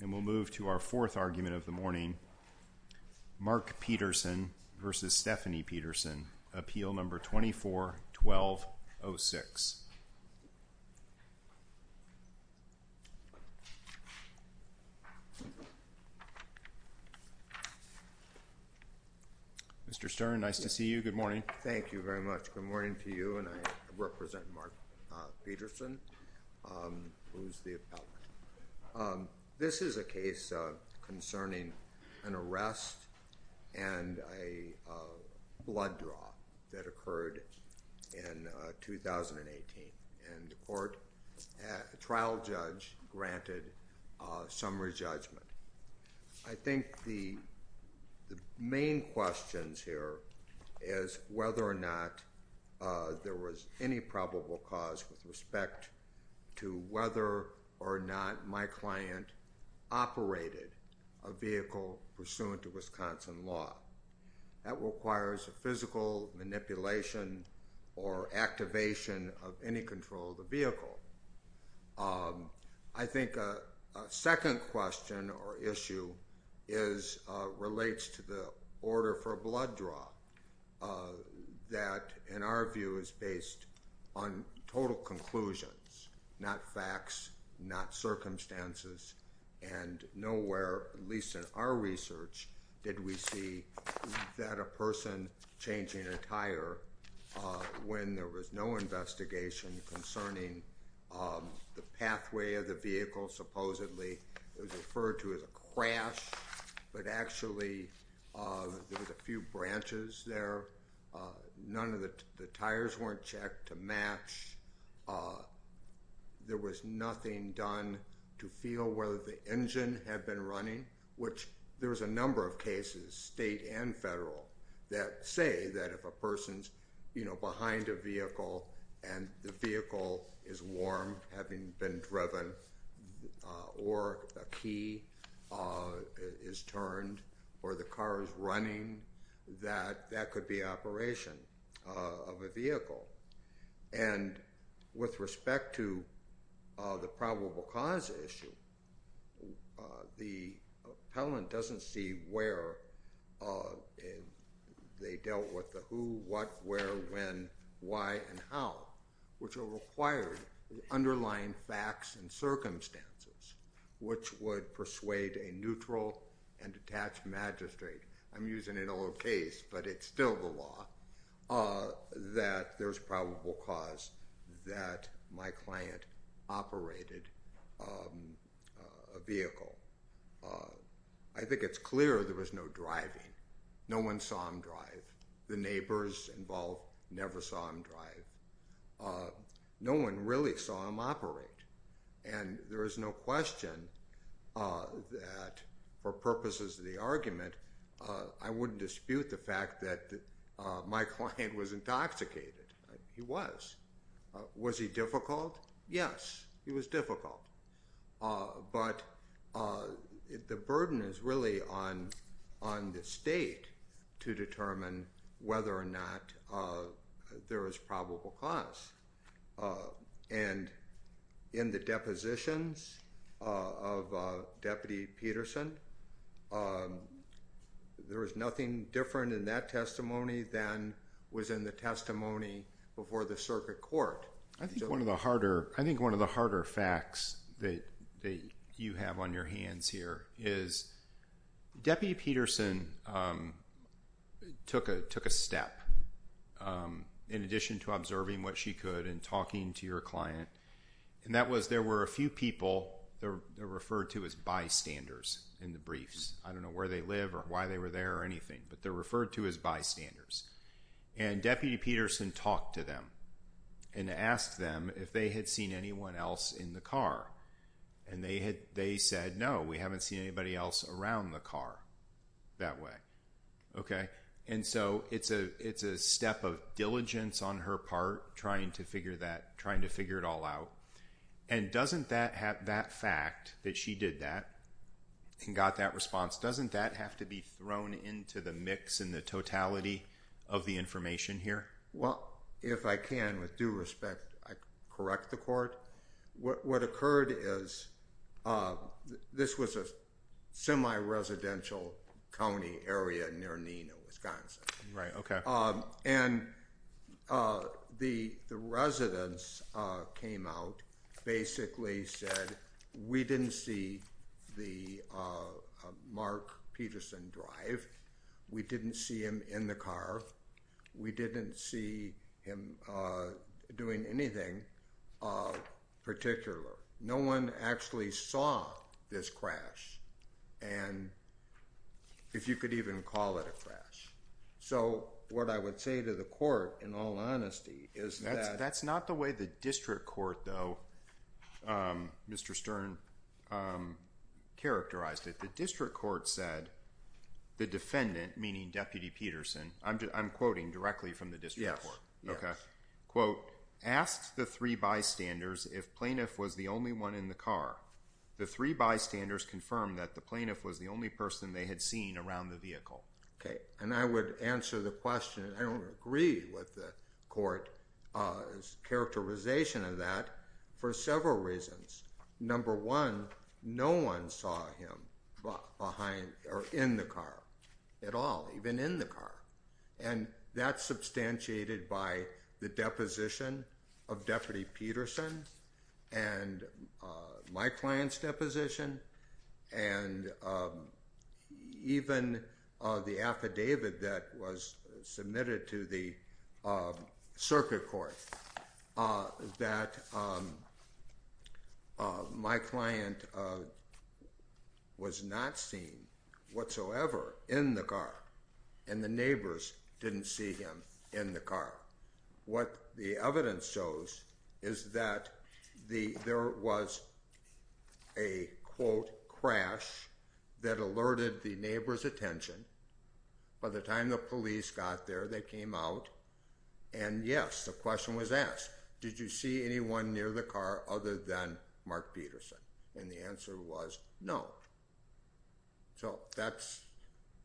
And we'll move to our fourth argument of the morning, Mark Petersen v. Stefanie Pedersen, appeal number 24-1206. Mr. Stern, nice to see you. Good morning. Thank you very much. Good morning to you. And I represent Mark Petersen, who's the appellant. This is a case concerning an arrest and a blood draw that occurred in 2018. And the court trial judge granted summary judgment. I think the main questions here is whether or not there was any probable cause with respect to whether or not my client operated a vehicle pursuant to Wisconsin law. That requires a physical manipulation or activation of any control of the vehicle. I relates to the order for a blood draw that, in our view, is based on total conclusions, not facts, not circumstances. And nowhere, at least in our research, did we see that a person changing a tire when there was no investigation concerning the pathway of the vehicle supposedly was referred to as a crash. But actually, there was a few branches there. None of the tires weren't checked to match. There was nothing done to feel whether the engine had been running, which there was a number of cases, state and federal, that say that if a person's, you know, behind a vehicle, and the vehicle is warm, having been driven, or a key is turned, or the car is running, that that could be operation of a vehicle. And with respect to the probable cause issue, the appellant doesn't see where they dealt with the who, what, where, when, why and how, which are required underlying facts and circumstances, which would persuade a neutral and detached magistrate, I'm using it all the case, but it's still the law, that there's probable cause that my client operated a vehicle. I think it's clear there was no driving. No one saw him drive. The neighbors involved never saw him drive. No one really saw him operate. And there is no question that for purposes of the argument, I wouldn't dispute the fact that my client was intoxicated. He was. Was he difficult? Yes, he was difficult. But the burden is really on on the state to determine whether or not there is probable cause. And in the depositions of Deputy Peterson, there was nothing different in that testimony than was in the testimony before the circuit court. I think one of the harder I think one of the harder facts that you have on your hands here is Deputy Peterson took a took a step in addition to observing what she could and talking to your client. And that was there were a few people there referred to as bystanders in the briefs. I don't know where they live or why they were there or anything, but they're referred to as bystanders. And Deputy Peterson talked to them and asked them if they had seen anyone else in the car. And they had they said no, we haven't seen anybody else around the car that way. Okay. And so it's a it's a step of diligence on her part trying to figure that trying to figure it all out. And doesn't that have that fact that she did that and got that response doesn't that have to be thrown into the mix and the totality of the Well, if I can with due respect, I correct the court. What occurred is this was a semi residential county area near Nina, Wisconsin, right? Okay. And the the residents came out basically said, we didn't see the Mark Peterson drive. We didn't see him in the car. We didn't see him doing anything particular. No one actually saw this crash. And if you could even call it a crash. So what I would say to the court, in all honesty, is that that's not the way the district court though. Mr. Stern characterized it, the district court said, the defendant, meaning Deputy Peterson, I'm just I'm quoting directly from the district court. Okay. Quote, asked the three bystanders, if plaintiff was the only one in the car, the three bystanders confirmed that the plaintiff was the only person they had seen around the vehicle. Okay. And I would answer the question. I don't agree with the court's characterization of that, for several reasons. Number one, no one saw him behind or in the car at all, even in the car. And that's substantiated by the deposition of Deputy Peterson, and my client's deposition. And even the affidavit that was submitted to the circuit court that my client was not seen whatsoever in the car. And the neighbors didn't see him in the car. What the evidence shows is that the there was a quote, crash that alerted the neighbor's attention. By the time the police got there, they came out. And yes, the question was asked, did you see anyone near the car other than Mark Peterson? And the answer was no. So that's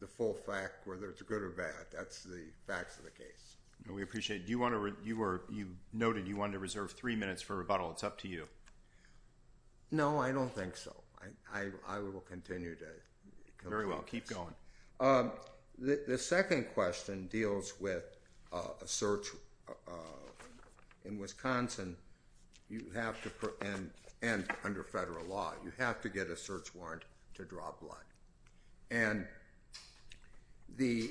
the full fact, whether it's good or bad. That's the facts of the case. We appreciate it. You noted you wanted to reserve three minutes for rebuttal. It's up to you. No, I don't think so. I will continue to keep going. The second question deals with a search in Wisconsin. You have to put an end under federal law, you have to get a search warrant to draw blood. And the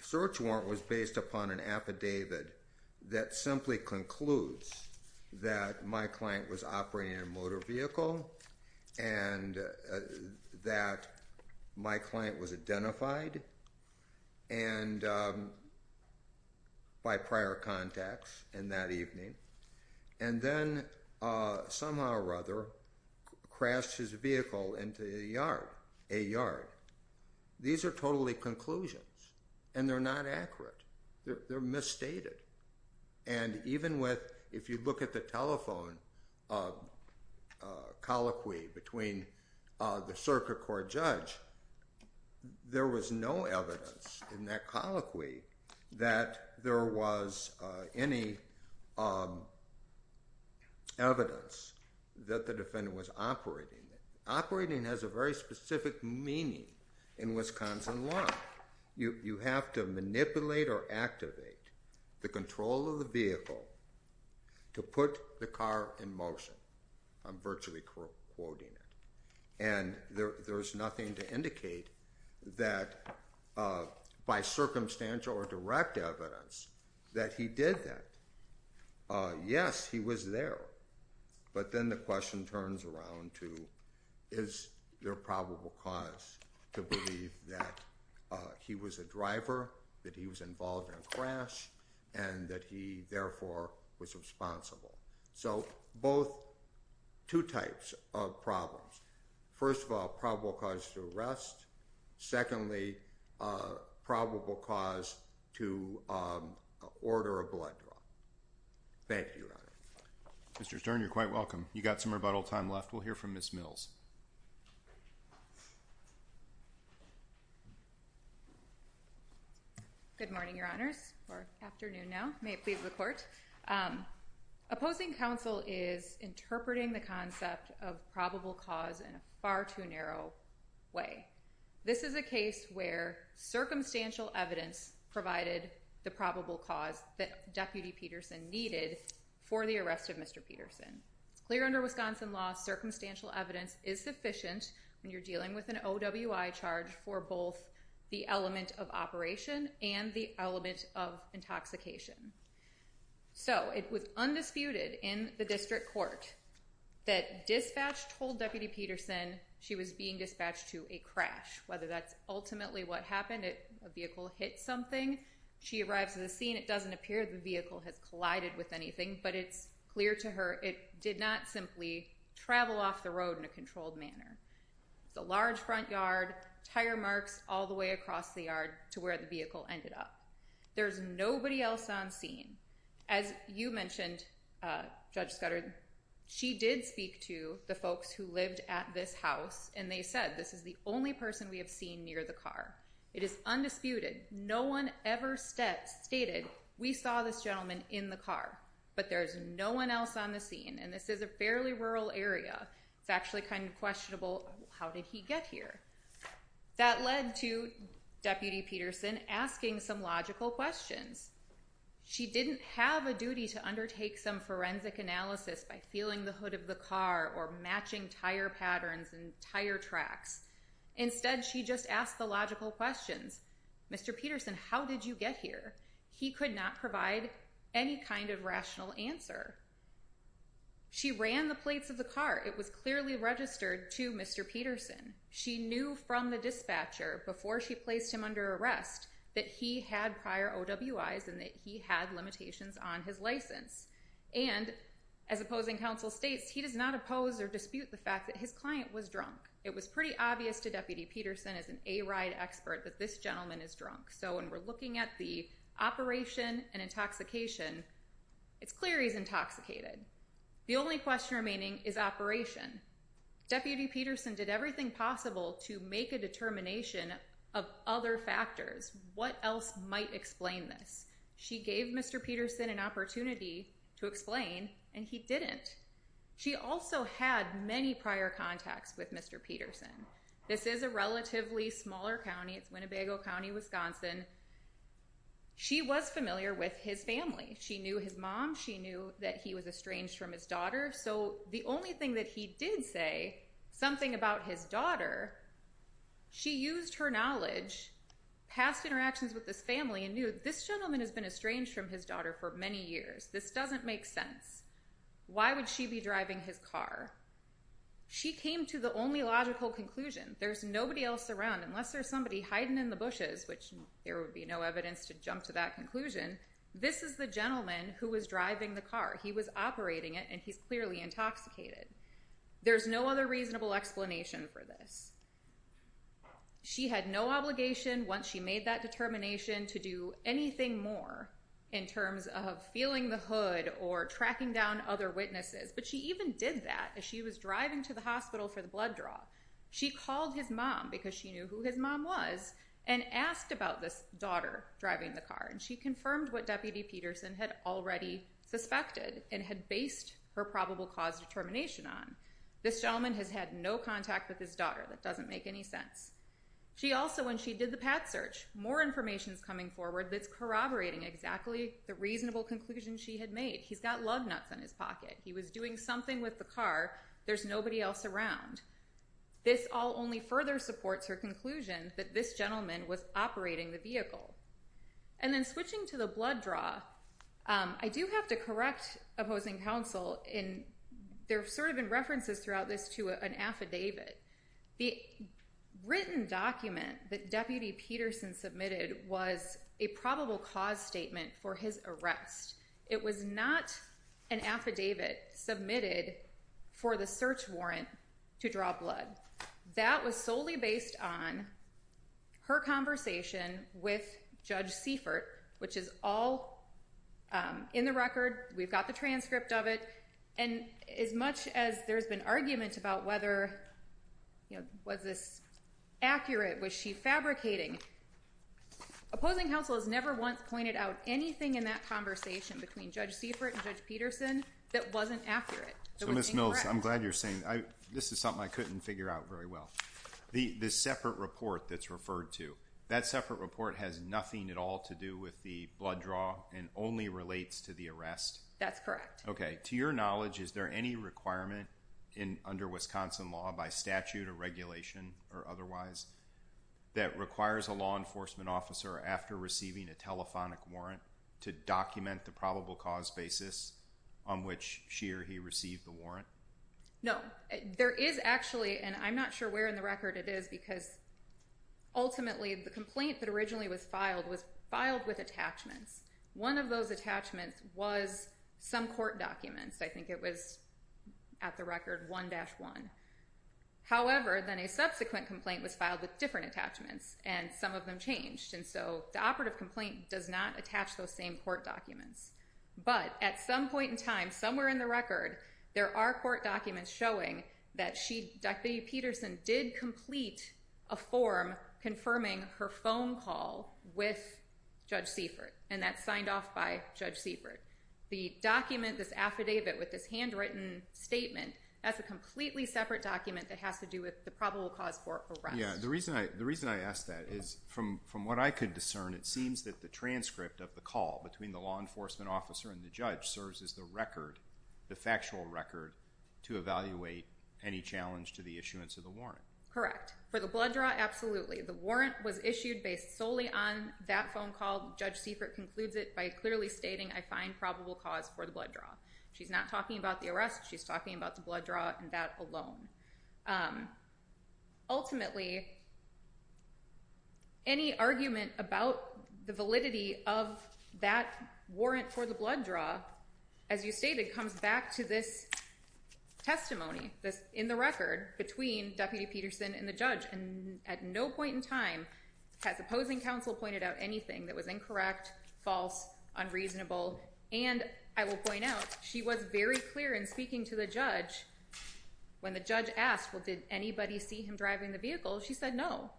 search warrant was based upon an affidavit that simply concludes that my client was operating a motor vehicle, and that my client was identified. And by prior contacts in that evening, and then somehow or other, crashed his vehicle into a yard, a yard. These are totally conclusions. And they're not accurate. They're misstated. And even with, if you look at the telephone colloquy between the circuit court judge, there was no evidence in that colloquy, that there was any evidence that the defendant was operating. Operating has a very specific meaning. In Wisconsin law, you have to manipulate or activate the control of the vehicle to put the car in motion. I'm virtually quoting it. And there's nothing to indicate that by circumstantial or direct evidence that he did that. Yes, he was there. But then the question turns around to, is there probable cause to believe that he was a driver, that he was involved in a crash, and that he therefore was responsible? So both two types of problems. First of all, probable cause to arrest. Secondly, probable cause to order a blood draw. Thank you, Mr. Stern, you're quite welcome. You got some rebuttal time left. We'll hear from Ms. Mills. Good morning, Your Honors, or afternoon now. May it please the court. Opposing counsel is interpreting the concept of probable cause in a far too narrow way. This is a case where circumstantial evidence provided the probable cause that Deputy Peterson needed for the arrest of Mr. Peterson. Clear under Wisconsin law, circumstantial evidence is sufficient when dealing with an OWI charge for both the element of operation and the element of intoxication. So it was undisputed in the district court that dispatch told Deputy Peterson she was being dispatched to a crash, whether that's ultimately what happened, a vehicle hit something, she arrives at the scene, it doesn't appear the vehicle has collided with anything, but it's clear to her it did not simply travel off the road in a controlled manner. It's a large front yard, tire marks all the way across the yard to where the vehicle ended up. There's nobody else on scene. As you mentioned, Judge Scudder, she did speak to the folks who lived at this house, and they said, this is the only person we have seen near the car. It is undisputed. No one ever stated, we saw this gentleman in the car, but there's no one else on the scene. And this is a fairly rural area. It's actually kind of questionable. How did he get here? That led to Deputy Peterson asking some logical questions. She didn't have a duty to undertake some forensic analysis by feeling the hood of the car or matching tire patterns and tire tracks. Instead, she just asked the logical questions. Mr. Peterson, how did you get here? He could not provide any kind of rational answer. She ran the plates of the car. It was clearly registered to Mr. Peterson. She knew from the dispatcher before she placed him under arrest that he had prior OWIs and that he had limitations on his license. And as opposing counsel states, he does not oppose or dispute the fact that his client was drunk. It was pretty obvious to Deputy Peterson as an A-ride expert that this gentleman is drunk. So when we're looking at the operation and intoxication, it's clear he's intoxicated. The only question remaining is operation. Deputy Peterson did everything possible to make a determination of other factors. What else might explain this? She gave Mr. Peterson an opportunity to explain and he didn't. She also had many prior contacts with Mr. Peterson. This is a relatively smaller county. It's Winnebago County, Wisconsin. She was familiar with his family. She knew his mom. She knew that he was estranged from his daughter. So the only thing that he did say something about his daughter, she used her knowledge, past interactions with this family and knew this gentleman has been estranged from his daughter for many years. This doesn't make sense. Why would she be driving his car? She came to the only logical conclusion. There's nobody else around unless there's somebody hiding in the bushes, which there would be no evidence to jump to that conclusion. This is the gentleman who was driving the car. He was operating it and he's clearly intoxicated. There's no other reasonable explanation for this. She had no obligation once she made that determination to do anything more in terms of feeling the hood or tracking down other witnesses. But she even did that as she was driving to the hospital for the blood draw. She called his mom because she knew who his mom was and asked about this daughter driving the car. And she confirmed what Deputy Peterson had already suspected and had based her probable cause determination on. This gentleman has had no contact with his daughter. That doesn't make any sense. She also, when she did the path search, more information is coming forward that's corroborating exactly the reasonable conclusion she had made. He's got lug nuts in his pocket. He was doing something with the car. There's nobody else around. This all only further supports her conclusion that this gentleman was operating the vehicle. And then switching to the blood draw, I do have to correct opposing counsel. And there have sort of been references throughout this to an affidavit. The written document that Deputy Peterson submitted was a probable cause statement for his arrest. It was not an affidavit submitted for the search warrant to draw blood. That was solely based on her conversation with Judge Seifert, which is all in the record. We've got the transcript of it. And as much as there's been argument about whether, you know, was this accurate? Was she fabricating? Opposing counsel has never once pointed out anything in that conversation between Judge Seifert and Judge Peterson that wasn't accurate. So Ms. Mills, I'm glad you're saying this is something I couldn't figure out very well. The separate report that's referred to that separate report has nothing at all to do with the blood draw and only relates to the arrest. That's correct. Okay. To your knowledge, is there any requirement in under Wisconsin law by statute or regulation or otherwise, that requires a law enforcement officer after receiving a telephonic warrant to document the probable cause basis on which she or he received the warrant? No, there is actually, and I'm not sure where in the record it is because ultimately the complaint that originally was filed was filed with attachments. One of those attachments was some court documents. I think it was at the record 1-1. However, then a subsequent complaint was filed with different attachments and some of them changed. And so the operative complaint does not attach those same court documents. But at some point in time, somewhere in the record, there are court documents showing that she, Deputy Peterson, did complete a form confirming her phone call with Judge Seifert and that's signed off by Judge Seifert. The document, this affidavit with this handwritten statement, that's a completely separate document that has to do with the probable cause for arrest. Yeah, the reason I ask that is from what I could discern, it seems that the transcript of the call between the law enforcement officer and the judge serves as the record, the factual record, to evaluate any challenge to the issuance of the warrant. Correct. For the blood draw, absolutely. The warrant was issued based solely on that phone call. Judge Seifert concludes it by clearly stating, I find probable cause for the blood draw. She's not talking about the arrest. She's blood draw and that alone. Ultimately, any argument about the validity of that warrant for the blood draw, as you stated, comes back to this testimony in the record between Deputy Peterson and the judge. And at no point in time has opposing counsel pointed out anything that was incorrect, false, unreasonable. And I will point out, she was very clear in speaking to the judge when the judge asked, well, did anybody see him driving the vehicle? She said, no,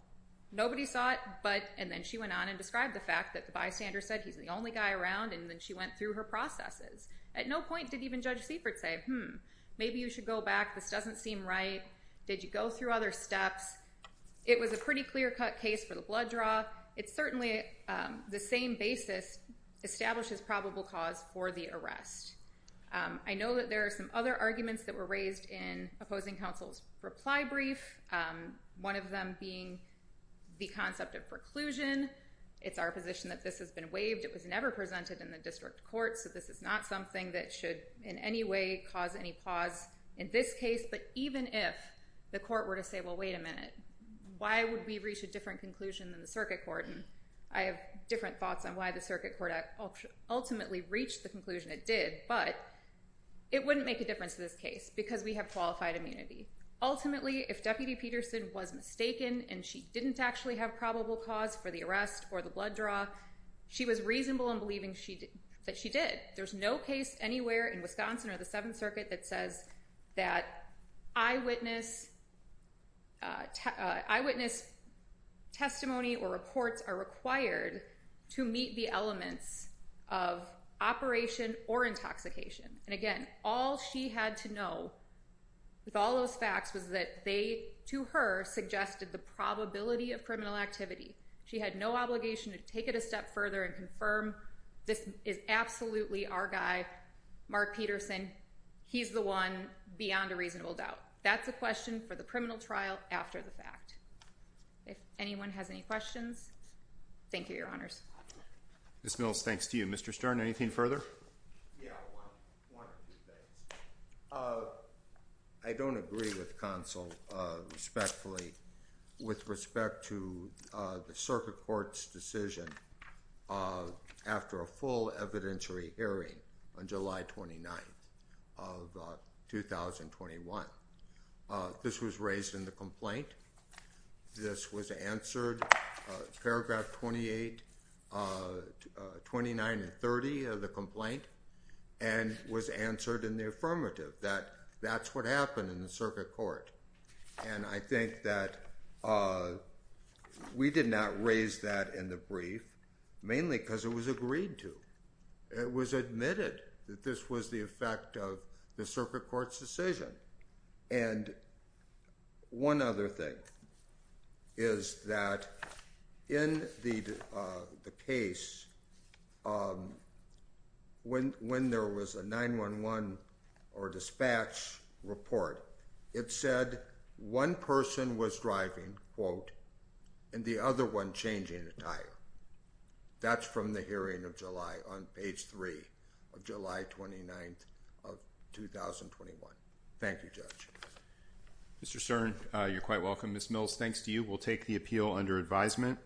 nobody saw it. But and then she went on and described the fact that the bystander said he's the only guy around. And then she went through her processes. At no point did even Judge Seifert say, hmm, maybe you should go back. This doesn't seem right. Did you go through other steps? It was a pretty clear cut case for the blood draw. It's certainly the same basis establishes probable cause for the arrest. I know that there are some other arguments that were raised in opposing counsel's reply brief, one of them being the concept of preclusion. It's our position that this has been waived. It was never presented in the district court. So this is not something that should in any way cause any pause in this case. But even if the court were to say, well, wait a minute, why would we reach a different conclusion than the circuit court? And I have different thoughts on why the circuit court ultimately reached the conclusion it did. But it wouldn't make a difference in this case because we have qualified immunity. Ultimately, if Deputy Peterson was mistaken and she didn't actually have probable cause for the arrest or the blood draw, she was reasonable in believing that she did. There's no case anywhere in Wisconsin or the Seventh Circuit that says that eyewitness testimony or reports are required to meet the elements of operation or intoxication. And all she had to know with all those facts was that they, to her, suggested the probability of criminal activity. She had no obligation to take it a step further and confirm this is absolutely our guy, Mark Peterson. He's the one beyond a reasonable doubt. That's a question for the criminal trial after the fact. If anyone has any questions. Thank you, Your Honors. Ms. Mills, thanks to you. Mr. Stern, anything further? I don't agree with counsel respectfully with respect to the circuit court's decision after a full evidentiary hearing on July 29th of 2021. This was raised in the complaint. This was answered paragraph 28, 29 and 30 of the complaint and was answered in the affirmative that that's what happened in the circuit court. And I think that we did not raise that in the brief, mainly because it was agreed to. It was admitted that this was the effect of the circuit court's decision. And one other thing is that in the case, when there was a 9-1-1 or dispatch report, it said one person was driving, quote, and the other one changing a tire. That's from the hearing of July on page three of July 29th of 2021. Thank you, Judge. Mr. Stern, you're quite welcome. Ms. Mills, thanks to you. We'll take the appeal under advisement.